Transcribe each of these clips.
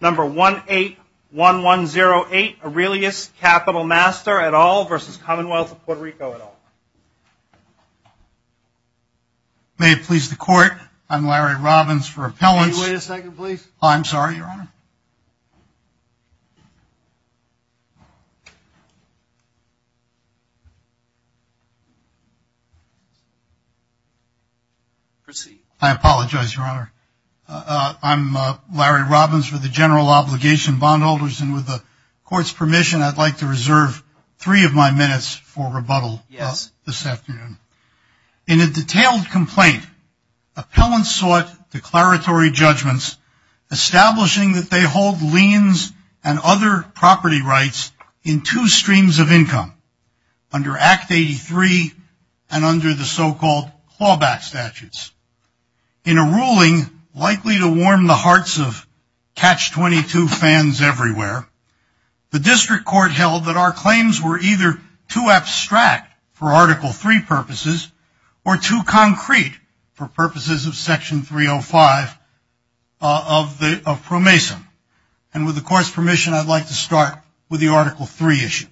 Number 181108, Aurelius Capital Master, Ltd. v. Commonwealth of Puerto Rico, Ltd. May it please the Court, I'm Larry Robbins for Appellants. Wait a second, please. I'm sorry, Your Honor. Proceed. I apologize, Your Honor. I'm Larry Robbins for the General Obligation Bondholders. And with the Court's permission, I'd like to reserve three of my minutes for rebuttal this afternoon. In a detailed complaint, appellants sought declaratory judgments establishing that they hold liens and other property rights in two streams of income, under Act 83 and under the so-called clawback statutes. In a ruling likely to warm the hearts of Catch-22 fans everywhere, the District Court held that our claims were either too abstract for Article 3 purposes or too concrete for purposes of Section 305 of PROMESA. And with the Court's permission, I'd like to start with the Article 3 issue.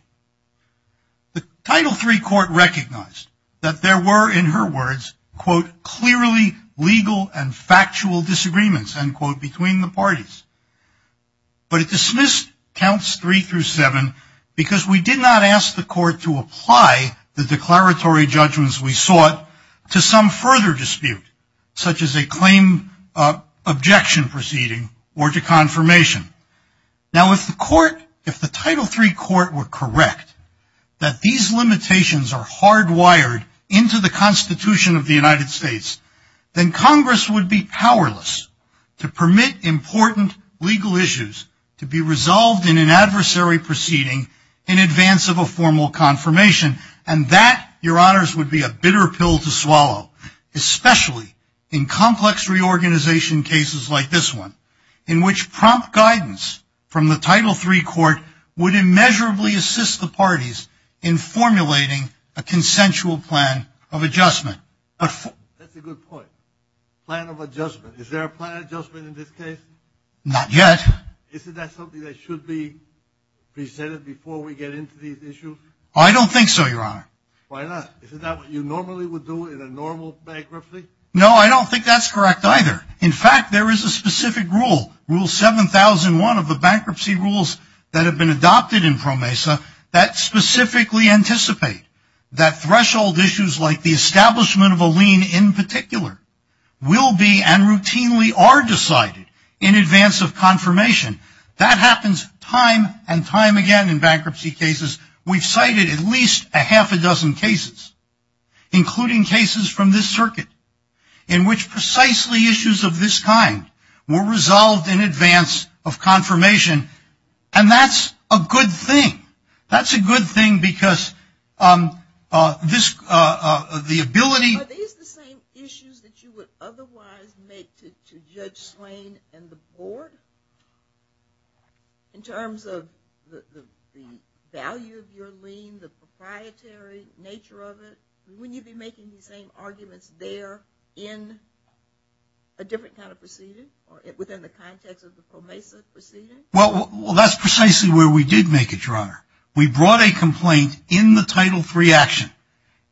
The Title 3 Court recognized that there were, in her words, quote, clearly legal and factual disagreements, end quote, between the parties. But it dismissed Counts 3 through 7 because we did not ask the Court to apply the declaratory judgments we sought to some further dispute, such as a claim objection proceeding or to confirmation. Now, if the Court, if the Title 3 Court were correct that these limitations are hardwired into the Constitution of the United States, then Congress would be powerless to permit important legal issues to be resolved in an adversary proceeding in advance of a formal confirmation. And that, your honors, would be a bitter pill to swallow, especially in complex reorganization cases like this one, in which prompt guidance from the Title 3 Court would immeasurably assist the parties in formulating a consensual plan of adjustment. That's a good point. Plan of adjustment. Is there a plan of adjustment in this case? Not yet. Isn't that something that should be presented before we get into these issues? I don't think so, your honor. Why not? Isn't that what you normally would do in a normal bankruptcy? No, I don't think that's correct either. In fact, there is a specific rule, Rule 7,001 of the bankruptcy rules that have been adopted in PROMESA that specifically anticipate that threshold issues like the establishment of a lien in particular will be and routinely are decided in advance of confirmation. That happens time and time again in bankruptcy cases. We've cited at least a half a dozen cases, including cases from this circuit, in which precisely issues of this kind were resolved in advance of confirmation. And that's a good thing. That's a good thing because this, the ability. Are these the same issues that you would otherwise make to Judge Swain and the board? In terms of the value of your lien, the proprietary nature of it, wouldn't you be making the same arguments there in a different kind of proceeding or within the context of the PROMESA proceeding? Well, that's precisely where we did make it, your honor. We brought a complaint in the Title III action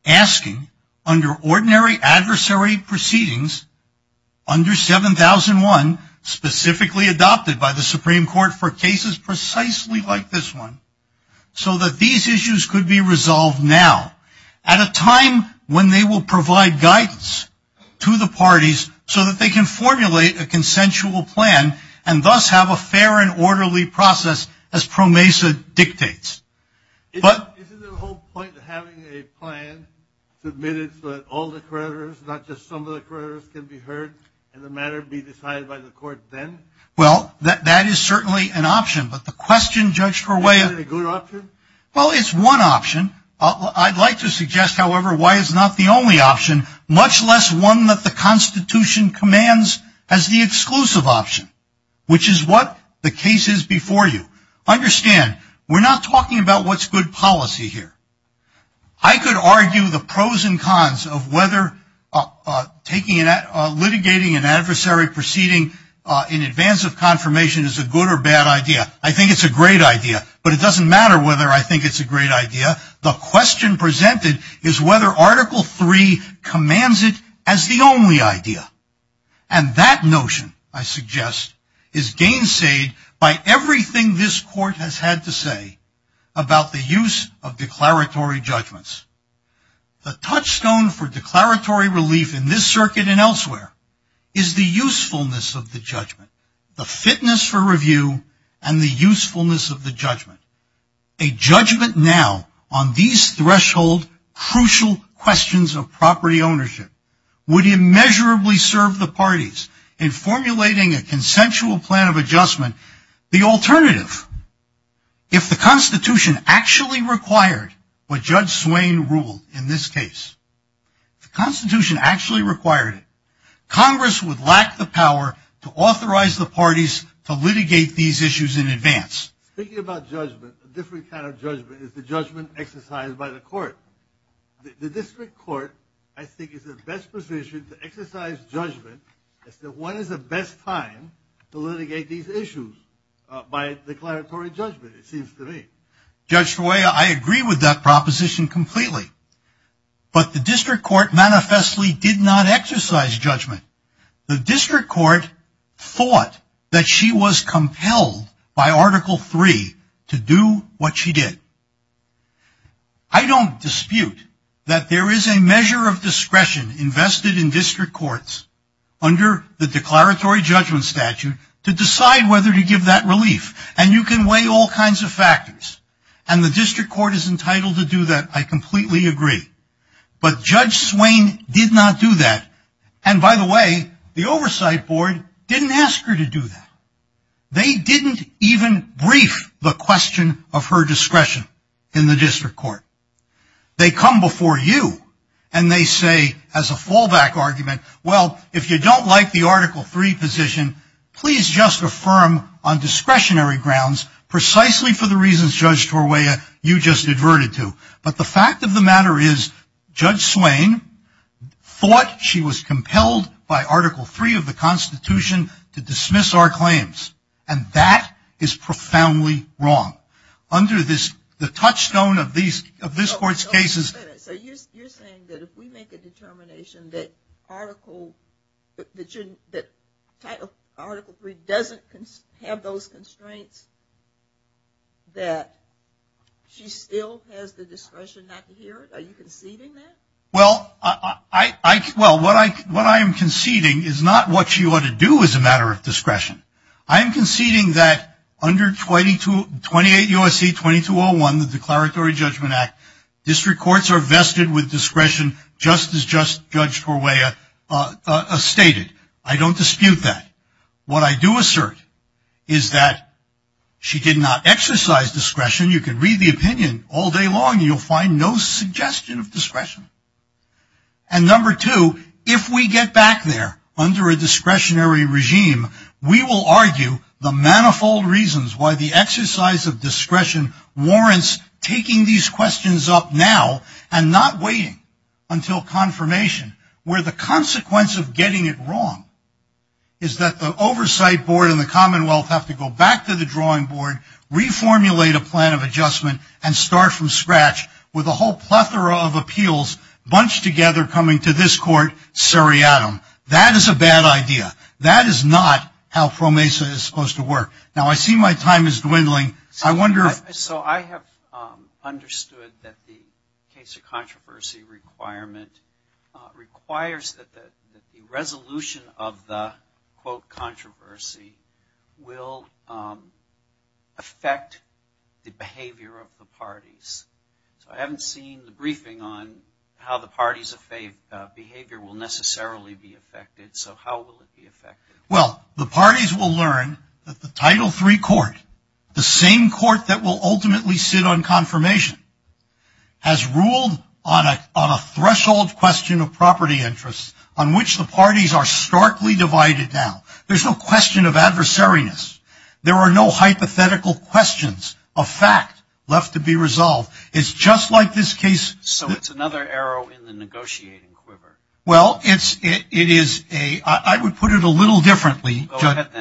asking under ordinary adversary proceedings under 7,001, specifically adopted by the Supreme Court for cases precisely like this one, so that these issues could be resolved now at a time when they will provide guidance to the parties so that they can formulate a consensual plan and thus have a fair and orderly process as PROMESA dictates. Isn't the whole point of having a plan submitted so that all the creditors, not just some of the creditors, can be heard and the matter be decided by the court then? Well, that is certainly an option, but the question, Judge Corway. Is it a good option? Well, it's one option. I'd like to suggest, however, why it's not the only option, much less one that the Constitution commands as the exclusive option, which is what the case is before you. Understand, we're not talking about what's good policy here. I could argue the pros and cons of whether litigating an adversary proceeding in advance of confirmation is a good or bad idea. I think it's a great idea, but it doesn't matter whether I think it's a great idea. The question presented is whether Article III commands it as the only idea, and that notion, I suggest, is gainsayed by everything this court has had to say about the use of declaratory judgments. The touchstone for declaratory relief in this circuit and elsewhere is the usefulness of the judgment, the fitness for review, and the usefulness of the judgment. A judgment now on these threshold crucial questions of property ownership would immeasurably serve the parties in formulating a consensual plan of adjustment. The alternative, if the Constitution actually required what Judge Swain ruled in this case, the Constitution actually required it. Congress would lack the power to authorize the parties to litigate these issues in advance. Speaking about judgment, a different kind of judgment is the judgment exercised by the court. The district court, I think, is in the best position to exercise judgment as to when is the best time to litigate these issues by declaratory judgment, it seems to me. Judge Roy, I agree with that proposition completely, but the district court manifestly did not exercise judgment. The district court thought that she was compelled by Article III to do what she did. I don't dispute that there is a measure of discretion invested in district courts under the declaratory judgment statute to decide whether to give that relief, and you can weigh all kinds of factors, and the district court is entitled to do that, I completely agree. But Judge Swain did not do that, and by the way, the oversight board didn't ask her to do that. They didn't even brief the question of her discretion in the district court. They come before you, and they say as a fallback argument, well, if you don't like the Article III position, please just affirm on discretionary grounds, precisely for the reasons, Judge Torwaya, you just adverted to. But the fact of the matter is, Judge Swain thought she was compelled by Article III of the Constitution to dismiss our claims, and that is profoundly wrong. So you're saying that if we make a determination that Article III doesn't have those constraints, that she still has the discretion not to hear it? Are you conceding that? Well, what I am conceding is not what she ought to do as a matter of discretion. I am conceding that under 28 U.S.C. 2201, the Declaratory Judgment Act, district courts are vested with discretion just as Judge Torwaya stated. I don't dispute that. What I do assert is that she did not exercise discretion. You can read the opinion all day long, and you'll find no suggestion of discretion. And number two, if we get back there under a discretionary regime, we will argue the manifold reasons why the exercise of discretion warrants taking these questions up now and not waiting until confirmation, where the consequence of getting it wrong is that the Oversight Board and the Commonwealth have to go back to the Drawing Board, reformulate a plan of adjustment, and start from scratch with a whole plethora of appeals bunched together coming to this court seriatim. That is a bad idea. That is not how PROMESA is supposed to work. Now, I see my time is dwindling. I wonder if... So I have understood that the case of controversy requirement requires that the resolution of the, quote, controversy will affect the behavior of the parties. So I haven't seen the briefing on how the parties' behavior will necessarily be affected. So how will it be affected? Well, the parties will learn that the Title III court, the same court that will ultimately sit on confirmation, has ruled on a threshold question of property interests on which the parties are starkly divided now. There's no question of adversariness. There are no hypothetical questions of fact left to be resolved. It's just like this case... So it's another arrow in the negotiating quiver. Well, it is a... I would put it a little differently,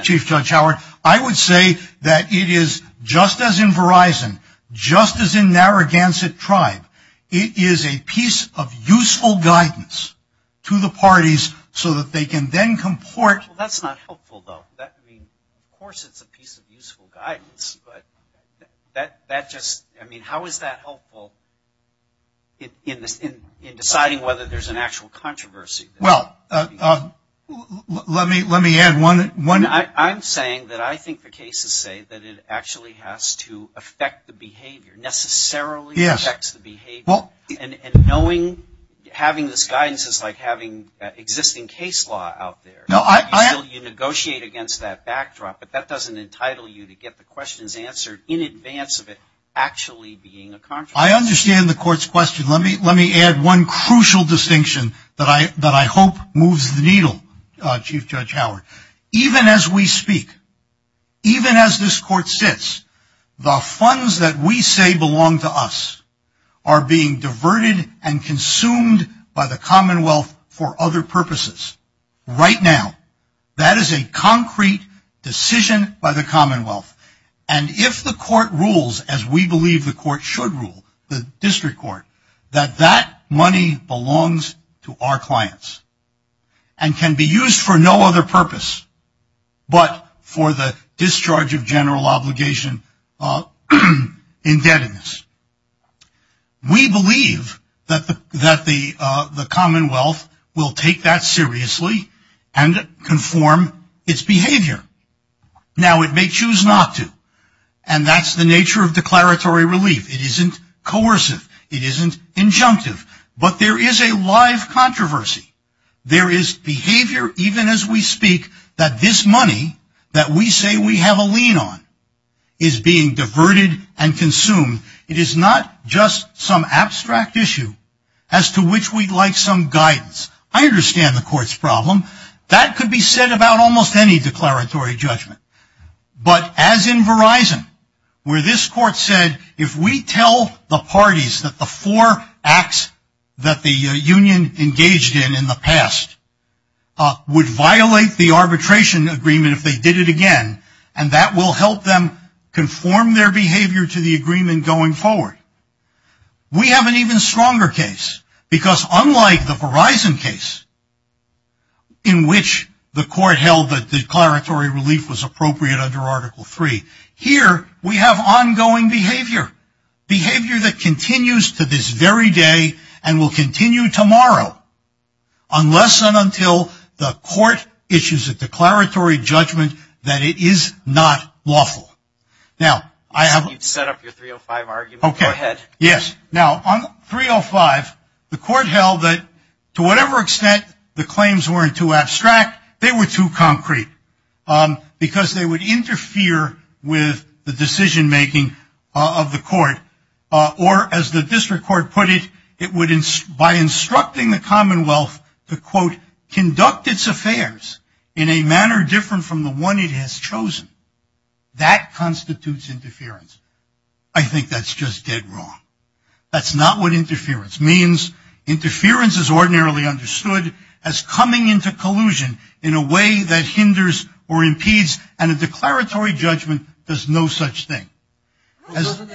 Chief Judge Howard. I would say that it is, just as in Verizon, just as in Narragansett Tribe, it is a piece of useful guidance to the parties so that they can then comport... Well, that's not helpful, though. I mean, of course it's a piece of useful guidance, but that just... I mean, how is that helpful in deciding whether there's an actual controversy? Well, let me add one... I'm saying that I think the cases say that it actually has to affect the behavior, necessarily affects the behavior. And knowing, having this guidance is like having existing case law out there. You negotiate against that backdrop, but that doesn't entitle you to get the questions answered in advance of it actually being a controversy. I understand the court's question. Let me add one crucial distinction that I hope moves the needle, Chief Judge Howard. Even as we speak, even as this court sits, the funds that we say belong to us are being diverted and consumed by the Commonwealth for other purposes. Right now, that is a concrete decision by the Commonwealth. And if the court rules, as we believe the court should rule, the district court, that that money belongs to our clients and can be used for no other purpose but for the discharge of general obligation indebtedness, we believe that the Commonwealth will take that seriously and conform its behavior. Now, it may choose not to, and that's the nature of declaratory relief. It isn't coercive. It isn't injunctive. But there is a live controversy. There is behavior, even as we speak, that this money that we say we have a lien on is being diverted and consumed. It is not just some abstract issue as to which we'd like some guidance. I understand the court's problem. That could be said about almost any declaratory judgment. But as in Verizon, where this court said, if we tell the parties that the four acts that the union engaged in in the past would violate the arbitration agreement if they did it again, and that will help them conform their behavior to the agreement going forward, we have an even stronger case. Because unlike the Verizon case, in which the court held that declaratory relief was appropriate under Article 3, here we have ongoing behavior, behavior that continues to this very day and will continue tomorrow, unless and until the court issues a declaratory judgment that it is not lawful. Now, I have a – Okay. Go ahead. Yes. Now, on 305, the court held that to whatever extent the claims weren't too abstract, they were too concrete because they would interfere with the decision-making of the court. Or, as the district court put it, it would, by instructing the Commonwealth to, quote, conduct its affairs in a manner different from the one it has chosen. That constitutes interference. I think that's just dead wrong. That's not what interference means. Interference is ordinarily understood as coming into collusion in a way that hinders or impedes, and a declaratory judgment does no such thing. Doesn't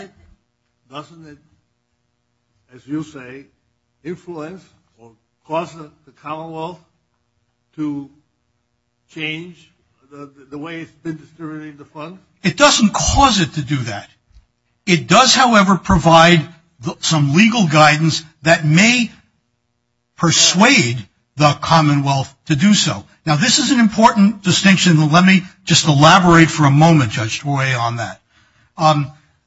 it, as you say, influence or cause the Commonwealth to change the way it's been distributing the funds? It doesn't cause it to do that. It does, however, provide some legal guidance that may persuade the Commonwealth to do so. Now, this is an important distinction. Let me just elaborate for a moment, Judge Troy, on that.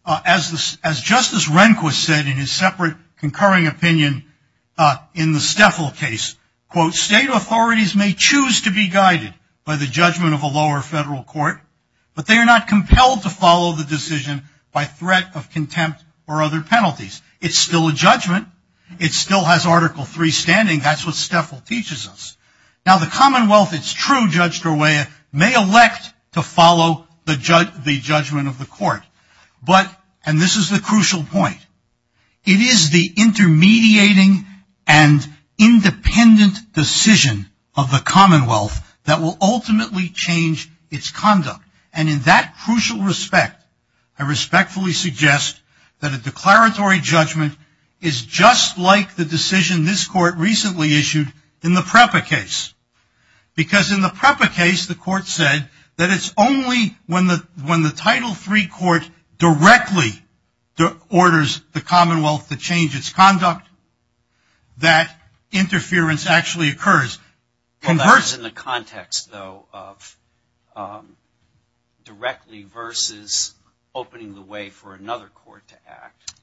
As Justice Rehnquist said in his separate concurring opinion in the Stefel case, quote, state authorities may choose to be guided by the judgment of a lower federal court, but they are not compelled to follow the decision by threat of contempt or other penalties. It's still a judgment. It still has Article III standing. That's what Stefel teaches us. Now, the Commonwealth, it's true, Judge Troy, may elect to follow the judgment of the court, but, and this is the crucial point, it is the intermediating and independent decision of the Commonwealth that will ultimately change its conduct. And in that crucial respect, I respectfully suggest that a declaratory judgment is just like the decision this court recently issued in the PREPA case. Because in the PREPA case, the court said that it's only when the Title III court directly orders the Commonwealth to change its conduct that interference actually occurs. Well, that's in the context, though, of directly versus opening the way for another court to act.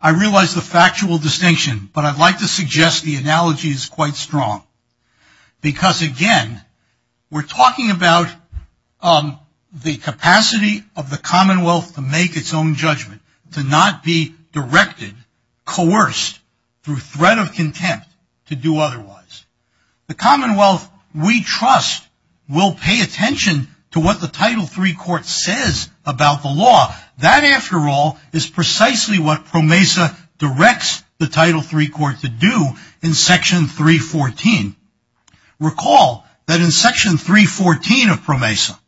I realize the factual distinction, but I'd like to suggest the analogy is quite strong. Because, again, we're talking about the capacity of the Commonwealth to make its own judgment, to not be directed, coerced through threat of contempt to do otherwise. The Commonwealth, we trust, will pay attention to what the Title III court says about the law. That, after all, is precisely what PROMESA directs the Title III court to do in Section 314. Recall that in Section 314 of PROMESA,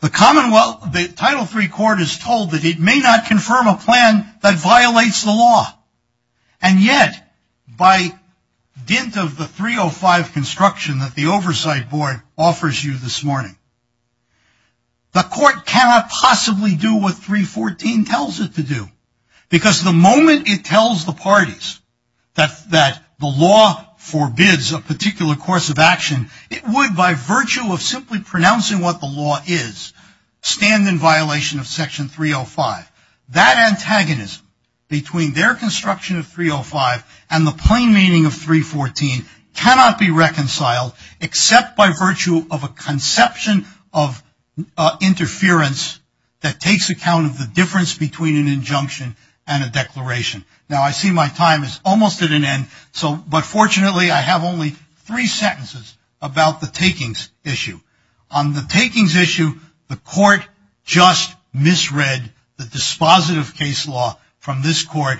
the Title III court is told that it may not confirm a plan that violates the law. And yet, by dint of the 305 construction that the Oversight Board offers you this morning, the court cannot possibly do what 314 tells it to do. Because the moment it tells the parties that the law forbids a particular course of action, it would, by virtue of simply pronouncing what the law is, stand in violation of Section 305. That antagonism between their construction of 305 and the plain meaning of 314 cannot be reconciled, except by virtue of a conception of interference that takes account of the difference between an injunction and a declaration. Now, I see my time is almost at an end, but fortunately I have only three sentences about the takings issue. On the takings issue, the court just misread the dispositive case law from this court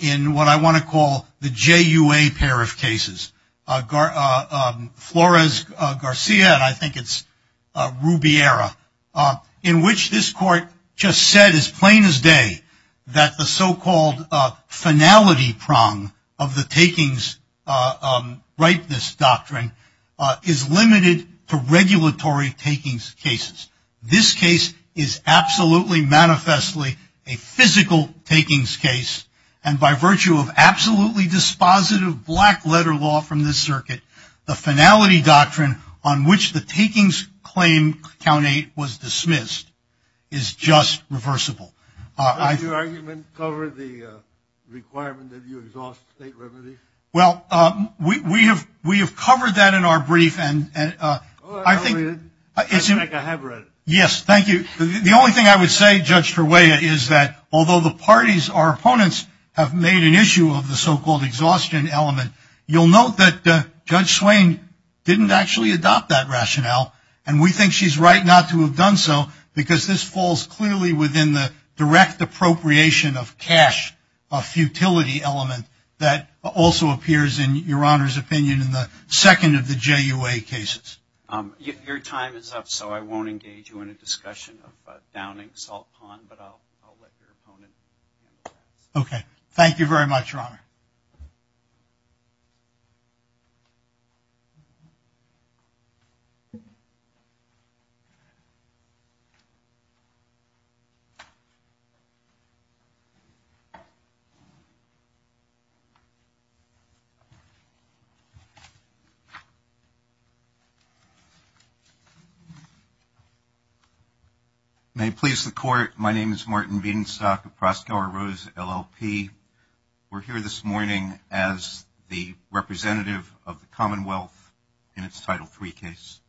in what I want to call the JUA pair of cases. Flores-Garcia, and I think it's Rubiera, in which this court just said as plain as day that the so-called finality prong of the takings rightness doctrine is limited to regulatory takings cases. This case is absolutely manifestly a physical takings case, and by virtue of absolutely dispositive black-letter law from this circuit, the finality doctrine on which the takings claim Count 8 was dismissed is just reversible. Did your argument cover the requirement that you exhaust state remedy? Well, we have covered that in our brief. I have read it. Yes, thank you. The only thing I would say, Judge Torrella, is that although the parties or opponents have made an issue of the so-called exhaustion element, you'll note that Judge Swain didn't actually adopt that rationale, and we think she's right not to have done so because this falls clearly within the direct appropriation of cash, a futility element that also appears in your Honor's opinion in the second of the JUA cases. Your time is up, so I won't engage you in a discussion of downing salt pond, but I'll let your opponent answer that. Okay, thank you very much, Your Honor. May it please the Court. My name is Martin Bedenstock of Proskauer Rose, LLP. We're here this morning as the representative of the Commonwealth in its Title III case.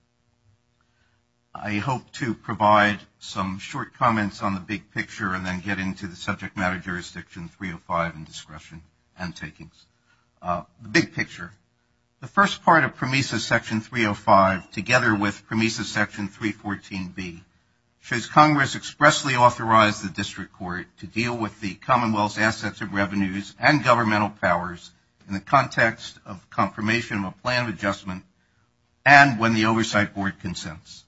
I hope to provide some short comments on the big picture and then get into the subject matter jurisdiction 305 and discretion and takings. The big picture, the first part of PROMESA Section 305, together with PROMESA Section 314B, shows Congress expressly authorized the District Court to deal with the Commonwealth's assets of revenues and governmental powers in the context of confirmation of a plan of adjustment and when the Oversight Board consents.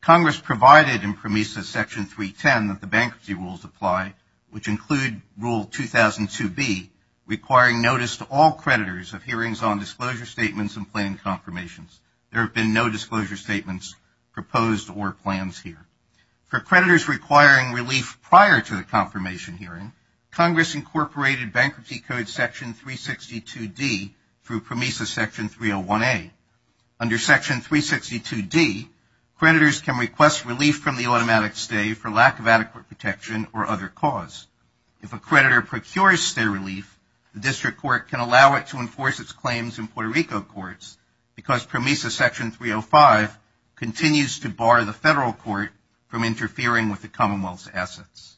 Congress provided in PROMESA Section 310 that the bankruptcy rules apply, which include Rule 2002B, requiring notice to all creditors of hearings on disclosure statements and planned confirmations. There have been no disclosure statements proposed or plans here. For creditors requiring relief prior to the confirmation hearing, Congress incorporated Bankruptcy Code Section 362D through PROMESA Section 301A. Under Section 362D, creditors can request relief from the automatic stay for lack of adequate protection or other cause. If a creditor procures stay relief, the District Court can allow it to enforce its claims in Puerto Rico courts because PROMESA Section 305 continues to bar the Federal Court from interfering with the Commonwealth's assets.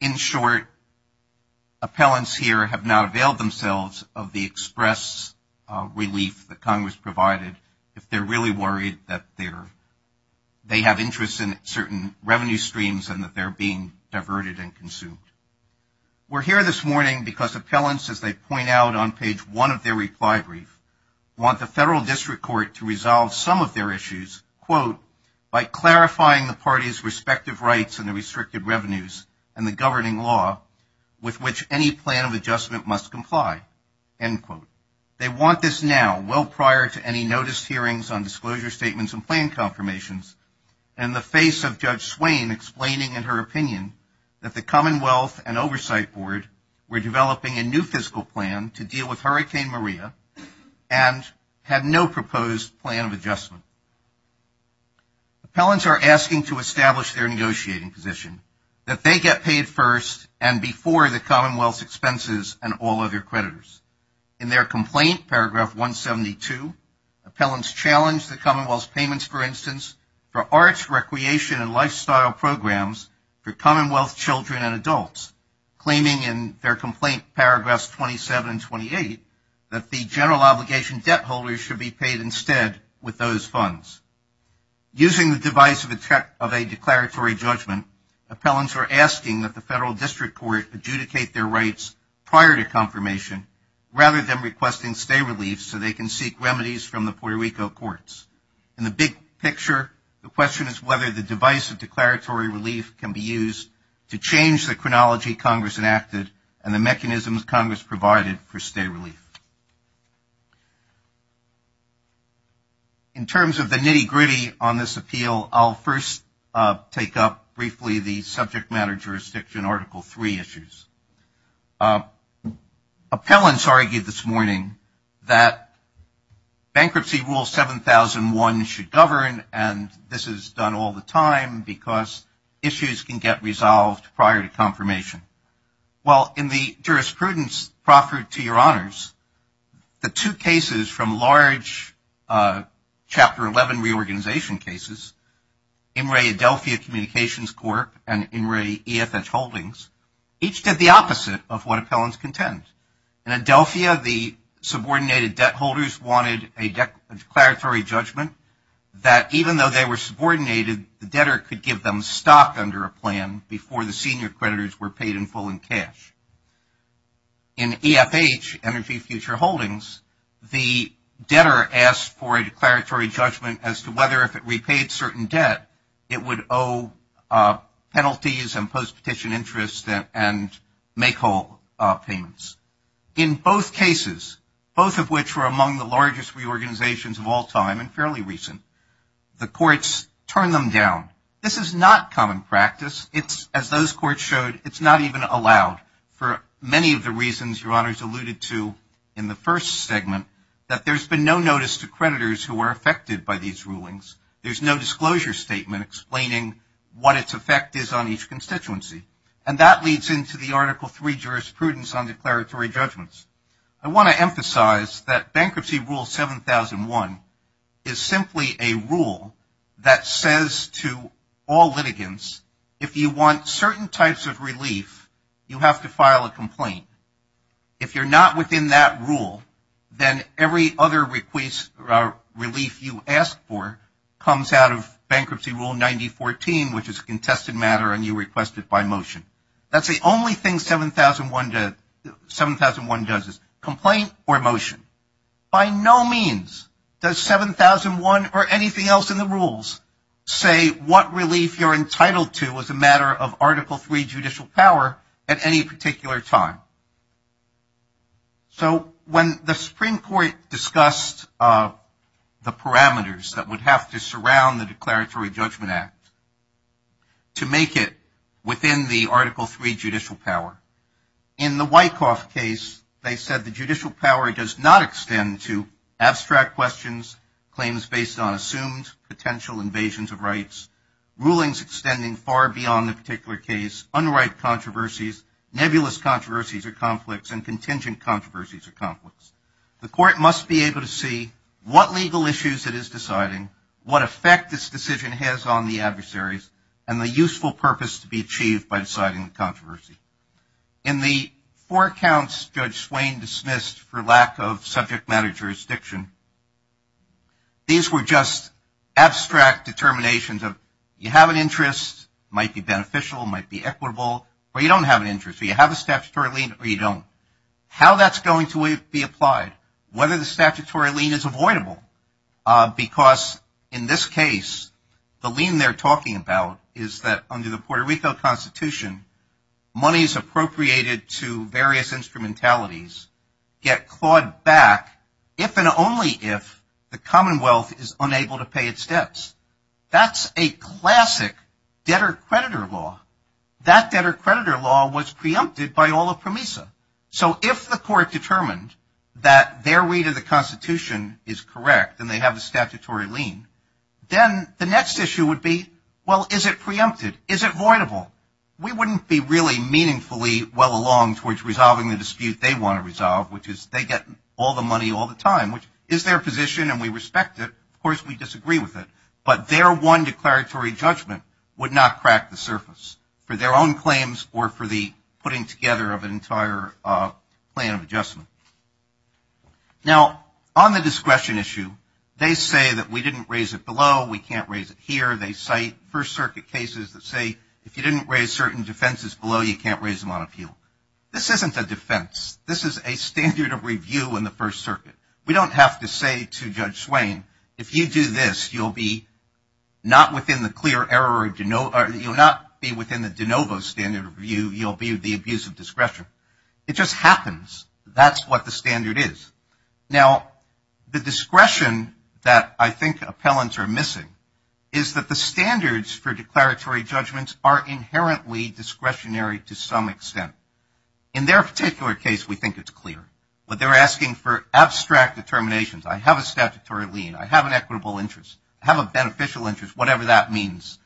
In short, appellants here have not availed themselves of the express relief that Congress provided if they're really worried that they have interest in certain revenue streams and that they're being diverted and consumed. We're here this morning because appellants, as they point out on page one of their reply brief, want the Federal District Court to resolve some of their issues, quote, by clarifying the parties' respective rights and the restricted revenues and the governing law with which any plan of adjustment must comply, end quote. They want this now, well prior to any notice hearings on disclosure statements and planned confirmations, in the face of Judge Swain explaining in her opinion that the Commonwealth and Oversight Board were developing a new fiscal plan to deal with Hurricane Maria and had no proposed plan of adjustment. Appellants are asking to establish their negotiating position, that they get paid first and before the Commonwealth's expenses and all other creditors. In their complaint, paragraph 172, appellants challenged the Commonwealth's payments, for instance, for arts, recreation and lifestyle programs for Commonwealth children and adults, claiming in their complaint, paragraphs 27 and 28, that the general obligation debt holders should be paid instead with those funds. Using the device of a declaratory judgment, appellants are asking that the Federal District Court adjudicate their rights prior to confirmation, rather than requesting stay relief so they can seek remedies from the Puerto Rico courts. In the big picture, the question is whether the device of declaratory relief can be used to change the chronology Congress enacted and the mechanisms Congress provided for stay relief. In terms of the nitty-gritty on this appeal, I'll first take up briefly the subject matter jurisdiction Article 3 issues. Appellants argued this morning that Bankruptcy Rule 7001 should govern, and this is done all the time because issues can get resolved prior to confirmation. Well, in the jurisprudence proffered to your honors, the two cases from large Chapter 11 reorganization cases, In re Adelphia Communications Corp and In re EFH Holdings, each did the opposite of what appellants contend. In Adelphia, the subordinated debt holders wanted a declaratory judgment that even though they were subordinated, the debtor could give them stock under a plan before the senior creditors were paid in full in cash. In EFH, Energy Future Holdings, the debtor asked for a declaratory judgment as to whether if it repaid certain debt, it would owe penalties and post-petition interest and make whole payments. In both cases, both of which were among the largest reorganizations of all time and fairly recent, the courts turned them down. This is not common practice. As those courts showed, it's not even allowed. For many of the reasons your honors alluded to in the first segment, that there's been no notice to creditors who are affected by these rulings. There's no disclosure statement explaining what its effect is on each constituency. And that leads into the Article 3 jurisprudence on declaratory judgments. I want to emphasize that Bankruptcy Rule 7001 is simply a rule that says to all litigants, if you want certain types of relief, you have to file a complaint. If you're not within that rule, then every other relief you ask for comes out of Bankruptcy Rule 9014, which is a contested matter and you request it by motion. That's the only thing 7001 does, is complaint or motion. By no means does 7001 or anything else in the rules say what relief you're entitled to as a matter of Article 3 judicial power at any particular time. So when the Supreme Court discussed the parameters that would have to surround the Declaratory Judgment Act to make it within the Article 3 judicial power, in the Wyckoff case they said the judicial power does not extend to abstract questions, claims based on assumed potential invasions of rights, rulings extending far beyond the particular case, unright controversies, nebulous controversies or conflicts, and contingent controversies or conflicts. The court must be able to see what legal issues it is deciding, what effect this decision has on the adversaries, and the useful purpose to be achieved by deciding the controversy. In the four accounts Judge Swain dismissed for lack of subject matter jurisdiction, these were just abstract determinations of you have an interest, it might be beneficial, it might be equitable, or you don't have an interest, or you have a statutory lien or you don't. How that's going to be applied, whether the statutory lien is avoidable, because in this case the lien they're talking about is that under the Puerto Rico Constitution, monies appropriated to various instrumentalities get clawed back if and only if the Commonwealth is unable to pay its debts. That's a classic debtor-creditor law. That debtor-creditor law was preempted by all of PROMISA. So if the court determined that their read of the Constitution is correct and they have a statutory lien, then the next issue would be, well, is it preempted? Is it avoidable? We wouldn't be really meaningfully well along towards resolving the dispute they want to resolve, which is they get all the money all the time, which is their position and we respect it. Of course, we disagree with it. But their one declaratory judgment would not crack the surface for their own claims or for the putting together of an entire plan of adjustment. Now, on the discretion issue, they say that we didn't raise it below, we can't raise it here. They cite First Circuit cases that say if you didn't raise certain defenses below, you can't raise them on appeal. This isn't a defense. This is a standard of review in the First Circuit. We don't have to say to Judge Swain, if you do this, you'll be not within the clear error or you'll not be within the de novo standard of review. You'll be the abuse of discretion. It just happens. That's what the standard is. Now, the discretion that I think appellants are missing is that the standards for declaratory judgments are inherently discretionary to some extent. In their particular case, we think it's clear. But they're asking for abstract determinations. I have a statutory lien. I have an equitable interest. I have a beneficial interest, whatever that means.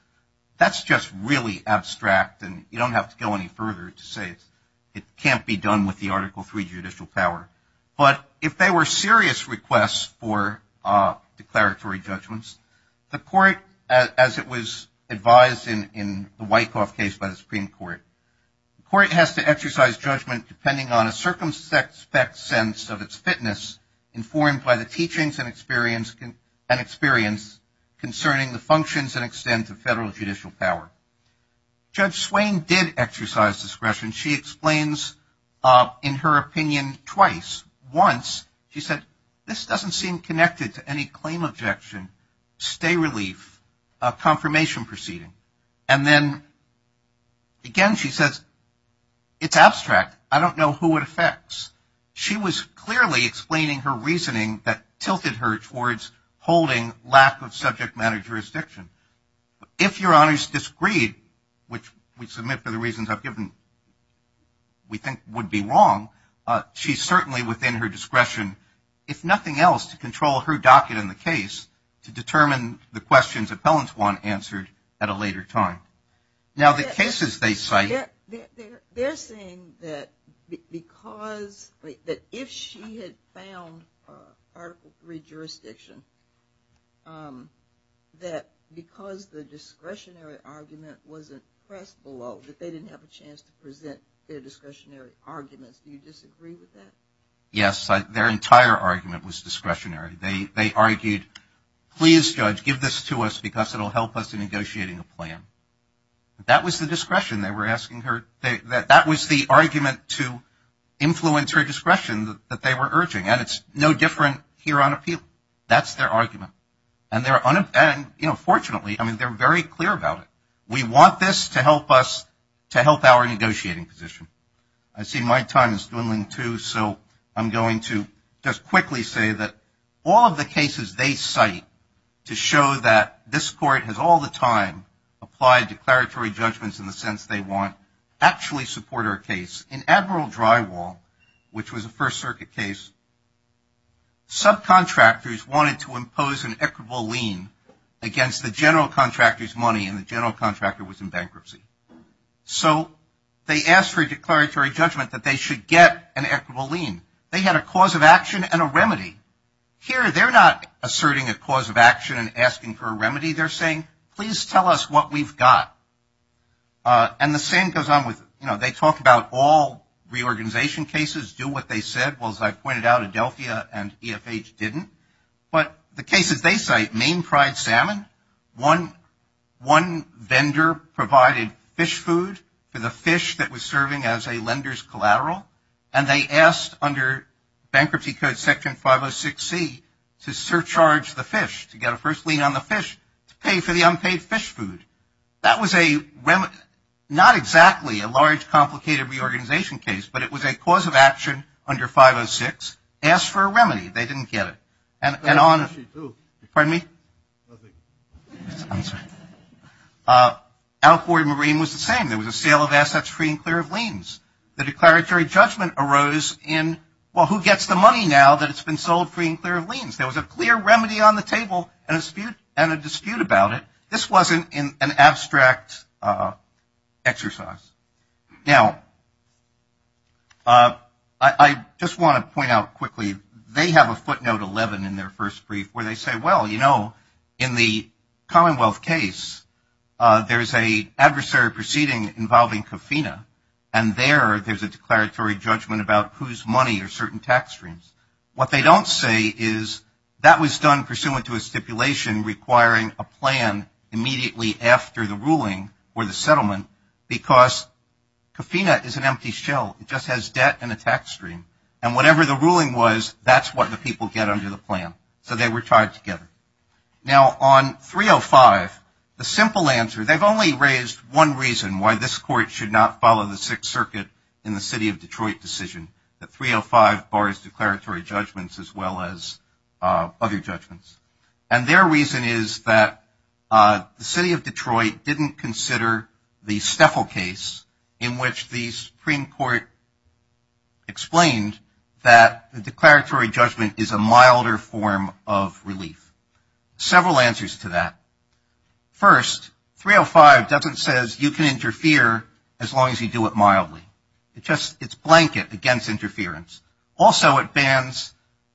That's just really abstract and you don't have to go any further to say it can't be done with the Article III judicial power. But if they were serious requests for declaratory judgments, the court, as it was advised in the Wyckoff case by the Supreme Court, the court has to exercise judgment depending on a circumspect sense of its fitness informed by the teachings and experience concerning the functions and extent of federal judicial power. Judge Swain did exercise discretion. She explains in her opinion twice. Once she said, this doesn't seem connected to any claim objection, stay relief, confirmation proceeding. And then again she says, it's abstract. I don't know who it affects. She was clearly explaining her reasoning that tilted her towards holding lack of subject matter jurisdiction. If your honors disagree, which we submit for the reasons I've given, we think would be wrong, she's certainly within her discretion, if nothing else, to control her docket in the case to determine the questions Appellant Swan answered at a later time. Now the cases they cite. They're saying that if she had found Article III jurisdiction, that because the discretionary argument wasn't pressed below, that they didn't have a chance to present their discretionary arguments. Do you disagree with that? Yes, their entire argument was discretionary. They argued, please, judge, give this to us because it will help us in negotiating a plan. That was the discretion they were asking her. That was the argument to influence her discretion that they were urging. And it's no different here on appeal. That's their argument. And, you know, fortunately, I mean, they're very clear about it. We want this to help us to help our negotiating position. I see my time is dwindling too. So I'm going to just quickly say that all of the cases they cite to show that this court has all the time applied declaratory judgments in the sense they want, actually support our case. In Admiral Drywall, which was a First Circuit case, subcontractors wanted to impose an equitable lien against the general contractor's money and the general contractor was in bankruptcy. So they asked for a declaratory judgment that they should get an equitable lien. They had a cause of action and a remedy. Here they're not asserting a cause of action and asking for a remedy. They're saying, please tell us what we've got. And the same goes on with, you know, they talk about all reorganization cases, do what they said. Well, as I pointed out, Adelphia and EFH didn't. But the cases they cite, Maine Fried Salmon, one vendor provided fish food for the fish that was serving as a lender's collateral, and they asked under Bankruptcy Code Section 506C to surcharge the fish, to get a first lien on the fish, to pay for the unpaid fish food. That was not exactly a large, complicated reorganization case, but it was a cause of action under 506, asked for a remedy. They didn't get it. Pardon me? I'm sorry. Al-Ghuri Marine was the same. There was a sale of assets free and clear of liens. The declaratory judgment arose in, well, who gets the money now that it's been sold free and clear of liens? There was a clear remedy on the table and a dispute about it. This wasn't an abstract exercise. Now, I just want to point out quickly, they have a footnote 11 in their first brief where they say, well, you know, in the Commonwealth case there's an adversary proceeding involving Cofina, and there there's a declaratory judgment about whose money or certain tax streams. What they don't say is that was done pursuant to a stipulation requiring a plan immediately after the ruling or the settlement because Cofina is an empty shell. It just has debt and a tax stream. And whatever the ruling was, that's what the people get under the plan. So they were tied together. Now, on 305, the simple answer, they've only raised one reason why this court should not follow the Sixth Circuit in the city of Detroit decision, that 305 bars declaratory judgments as well as other judgments. And their reason is that the city of Detroit didn't consider the Steffel case, in which the Supreme Court explained that the declaratory judgment is a milder form of relief. Several answers to that. First, 305 doesn't say you can interfere as long as you do it mildly. It's just a blanket against interference. Also, it bans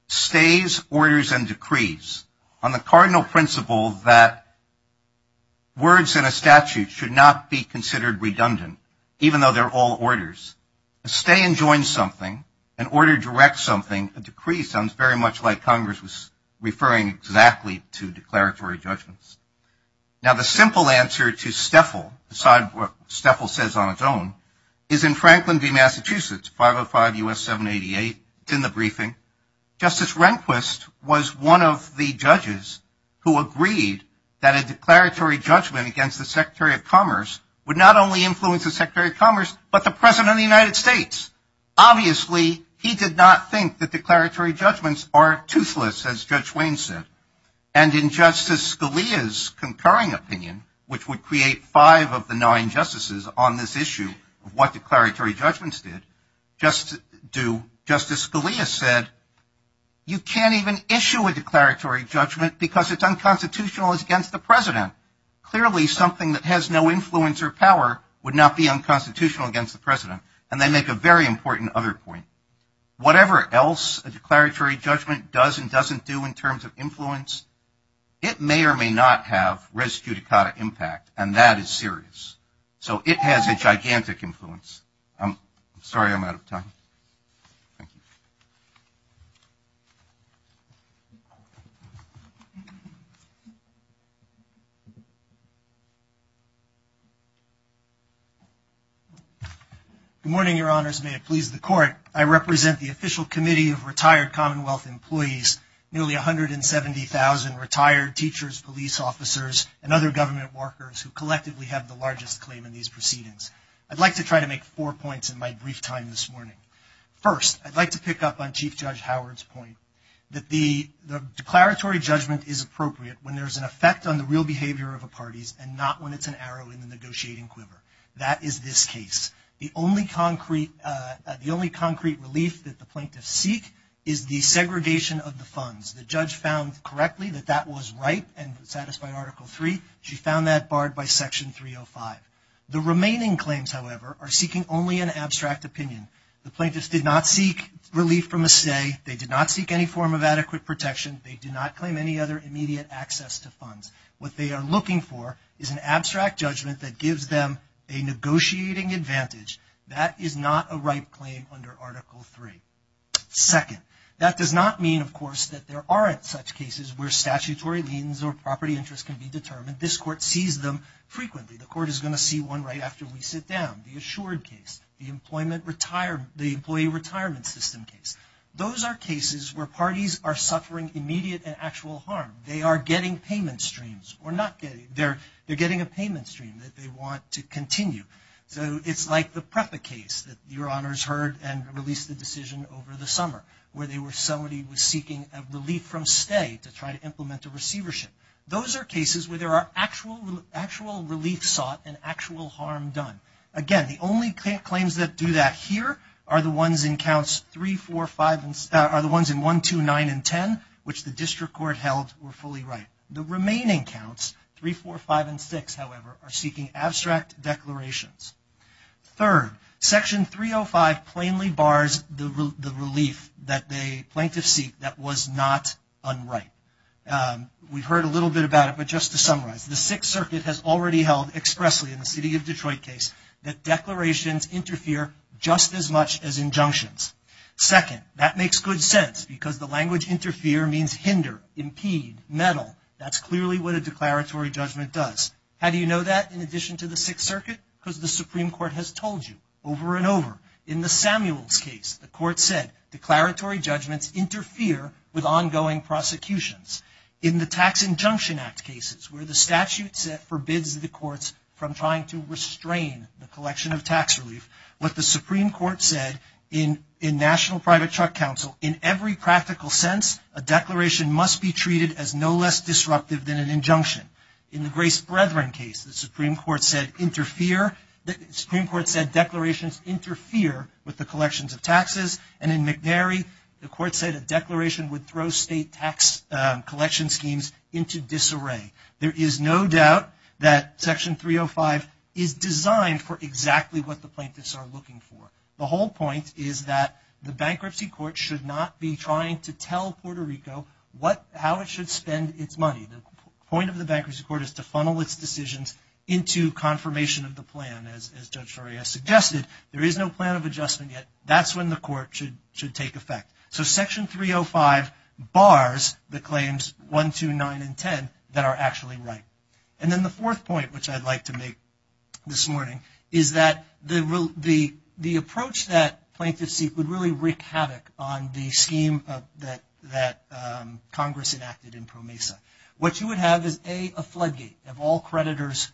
stays, orders, and decrees on the cardinal principle that words and a statute should not be considered redundant, even though they're all orders. A stay and join something, an order directs something, a decree sounds very much like Congress was referring exactly to declaratory judgments. Now, the simple answer to Steffel, aside from what Steffel says on its own, is in Franklin v. Massachusetts, 505 U.S. 788. It's in the briefing. Justice Rehnquist was one of the judges who agreed that a declaratory judgment against the Secretary of Commerce would not only influence the Secretary of Commerce, but the President of the United States. Obviously, he did not think that declaratory judgments are toothless, as Judge Wayne said. And in Justice Scalia's concurring opinion, which would create five of the nine justices on this issue of what declaratory judgments did, do, Justice Scalia said, you can't even issue a declaratory judgment because it's unconstitutional against the President. Clearly, something that has no influence or power would not be unconstitutional against the President, and they make a very important other point. Whatever else a declaratory judgment does and doesn't do in terms of influence, it may or may not have res judicata impact, and that is serious. So it has a gigantic influence. I'm sorry I'm out of time. Thank you. Good morning, Your Honors. May it please the Court. I represent the official committee of retired Commonwealth employees, nearly 170,000 retired teachers, police officers, and other government workers who collectively have the largest claim in these proceedings. I'd like to try to make four points in my brief time this morning. First, I'd like to pick up on Chief Judge Howard's point that the declaratory judgment is appropriate when there's an effect on the real behavior of the parties and not when it's an arrow in the negotiating quiver. That is this case. The only concrete relief that the plaintiffs seek is the segregation of the funds. The judge found correctly that that was right and satisfied Article III. She found that barred by Section 305. The remaining claims, however, are seeking only an abstract opinion. The plaintiffs did not seek relief from a stay. They did not seek any form of adequate protection. They did not claim any other immediate access to funds. What they are looking for is an abstract judgment that gives them a negotiating advantage. That is not a right claim under Article III. Second, that does not mean, of course, that there aren't such cases where statutory liens or property interest can be determined. This Court sees them frequently. The Court is going to see one right after we sit down. The Assured case, the Employee Retirement System case. Those are cases where parties are suffering immediate and actual harm. They are getting payment streams. They're getting a payment stream that they want to continue. So it's like the PREPA case that Your Honors heard and released the decision over the summer where somebody was seeking relief from stay to try to implement a receivership. Those are cases where there are actual relief sought and actual harm done. Again, the only claims that do that here are the ones in counts 3, 4, 5, and are the ones in 1, 2, 9, and 10, which the District Court held were fully right. The remaining counts, 3, 4, 5, and 6, however, are seeking abstract declarations. Third, Section 305 plainly bars the relief that the plaintiffs seek that was not unright. We've heard a little bit about it, but just to summarize, the Sixth Circuit has already held expressly in the City of Detroit case that declarations interfere just as much as injunctions. Second, that makes good sense because the language interfere means hinder, impede, meddle. That's clearly what a declaratory judgment does. How do you know that in addition to the Sixth Circuit? Because the Supreme Court has told you over and over. In the Samuels case, the court said, declaratory judgments interfere with ongoing prosecutions. In the Tax Injunction Act cases, where the statute forbids the courts from trying to restrain the collection of tax relief, what the Supreme Court said in National Private Truck Council, in every practical sense, a declaration must be treated as no less disruptive than an injunction. In the Grace Brethren case, the Supreme Court said declarations interfere with the collections of taxes, and in McNary, the court said a declaration would throw state tax collection schemes into disarray. There is no doubt that Section 305 is designed for exactly what the plaintiffs are looking for. The whole point is that the bankruptcy court should not be trying to tell Puerto Rico how it should spend its money. The point of the bankruptcy court is to funnel its decisions into confirmation of the plan, and as Judge Toria suggested, there is no plan of adjustment yet. That's when the court should take effect. So Section 305 bars the claims 1, 2, 9, and 10 that are actually right. And then the fourth point, which I'd like to make this morning, is that the approach that plaintiffs seek would really wreak havoc on the scheme that Congress enacted in PROMESA. What you would have is, A, a floodgate of all creditors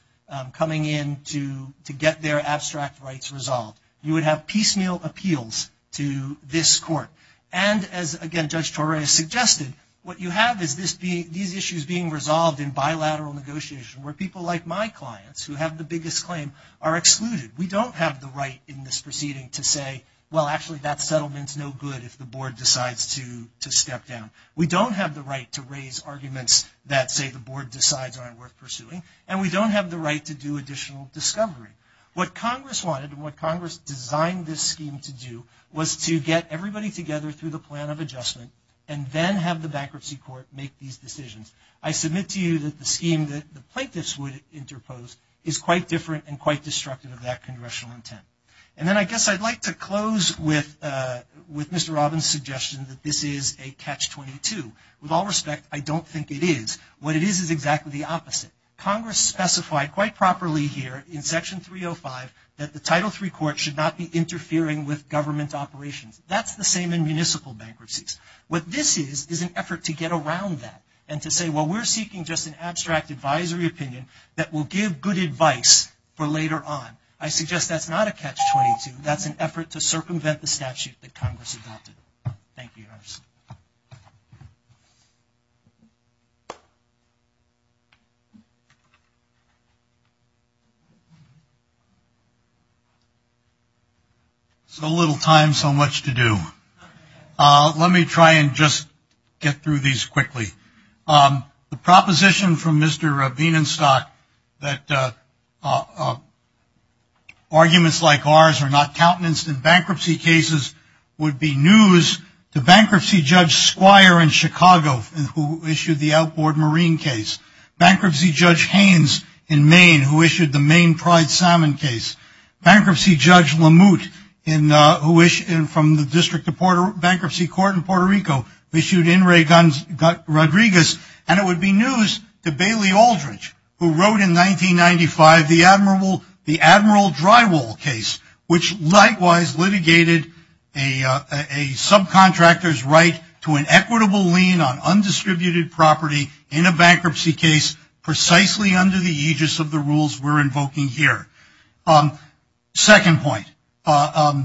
coming in to get their abstract rights resolved. You would have piecemeal appeals to this court. And as, again, Judge Toria suggested, what you have is these issues being resolved in bilateral negotiation, where people like my clients, who have the biggest claim, are excluded. We don't have the right in this proceeding to say, well, actually, that settlement's no good if the board decides to step down. We don't have the right to raise arguments that, say, the board decides aren't worth pursuing. And we don't have the right to do additional discovery. What Congress wanted and what Congress designed this scheme to do was to get everybody together through the plan of adjustment and then have the bankruptcy court make these decisions. I submit to you that the scheme that the plaintiffs would interpose is quite different and quite destructive of that congressional intent. And then I guess I'd like to close with Mr. Robbins' suggestion that this is a catch-22. With all respect, I don't think it is. What it is is exactly the opposite. Congress specified quite properly here in Section 305 that the Title III court should not be interfering with government operations. That's the same in municipal bankruptcies. What this is is an effort to get around that and to say, well, we're seeking just an abstract advisory opinion that will give good advice for later on. I suggest that's not a catch-22. That's an effort to circumvent the statute that Congress adopted. Thank you. So little time, so much to do. Let me try and just get through these quickly. The proposition from Mr. Bienenstock that arguments like ours are not acceptable, and we're not going to be able to do that. It would be news to bankruptcy judge Squire in Chicago who issued the outboard marine case, bankruptcy judge Haynes in Maine who issued the Maine pride salmon case, bankruptcy judge Lemout from the District of Bankruptcy Court in Puerto Rico who issued In re Rodriguez, and it would be news to Bailey Aldridge who wrote in 1995 the Admiral Drywall case which likewise litigated a subcontractor's right to an equitable lien on undistributed property in a bankruptcy case precisely under the aegis of the rules we're invoking here. Second point, I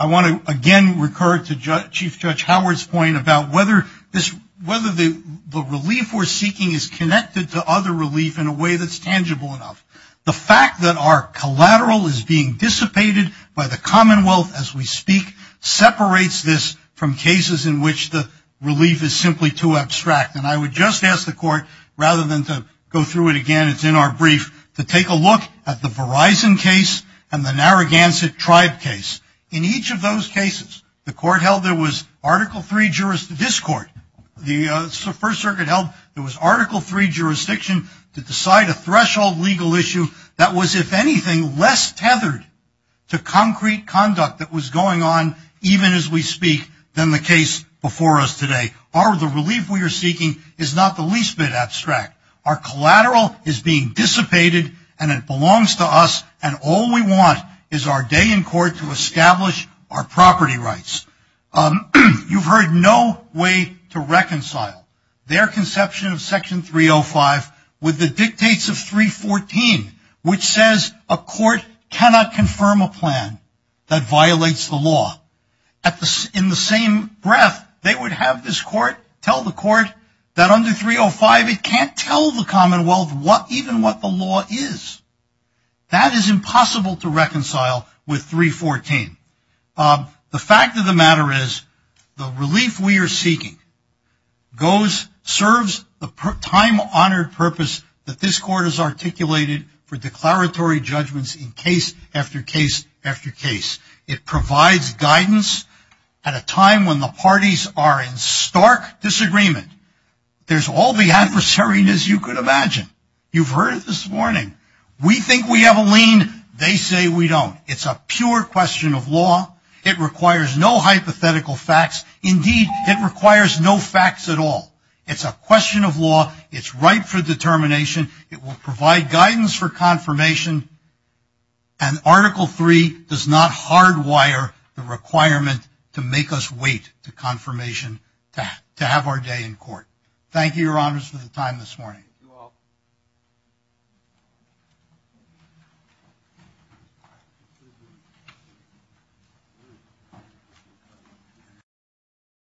want to again recur to Chief Judge Howard's point about whether the relief we're seeking is connected to other relief in a way that's tangible enough. The fact that our collateral is being dissipated by the commonwealth as we speak separates this from cases in which the relief is simply too abstract. And I would just ask the court, rather than to go through it again, it's in our brief, to take a look at the Verizon case and the Narragansett tribe case. In each of those cases, the court held there was Article III discord. The First Circuit held there was Article III jurisdiction to decide a particular issue that was, if anything, less tethered to concrete conduct that was going on even as we speak than the case before us today. The relief we are seeking is not the least bit abstract. Our collateral is being dissipated, and it belongs to us, and all we want is our day in court to establish our property rights. You've heard no way to reconcile their conception of Section 305 with the Section 314, which says a court cannot confirm a plan that violates the law. In the same breath, they would have this court tell the court that under 305, it can't tell the commonwealth even what the law is. That is impossible to reconcile with 314. The fact of the matter is the relief we are seeking goes, serves the time-honored purpose that this court has articulated for declaratory judgments in case after case after case. It provides guidance at a time when the parties are in stark disagreement. There's all the adversariness you could imagine. You've heard it this morning. We think we have a lien. They say we don't. It's a pure question of law. It requires no hypothetical facts. Indeed, it requires no facts at all. It's a question of law. It's right for determination. It will provide guidance for confirmation, and Article 3 does not hardwire the requirement to make us wait to confirmation to have our day in court. Thank you, Your Honors, for the time this morning. Thank you all.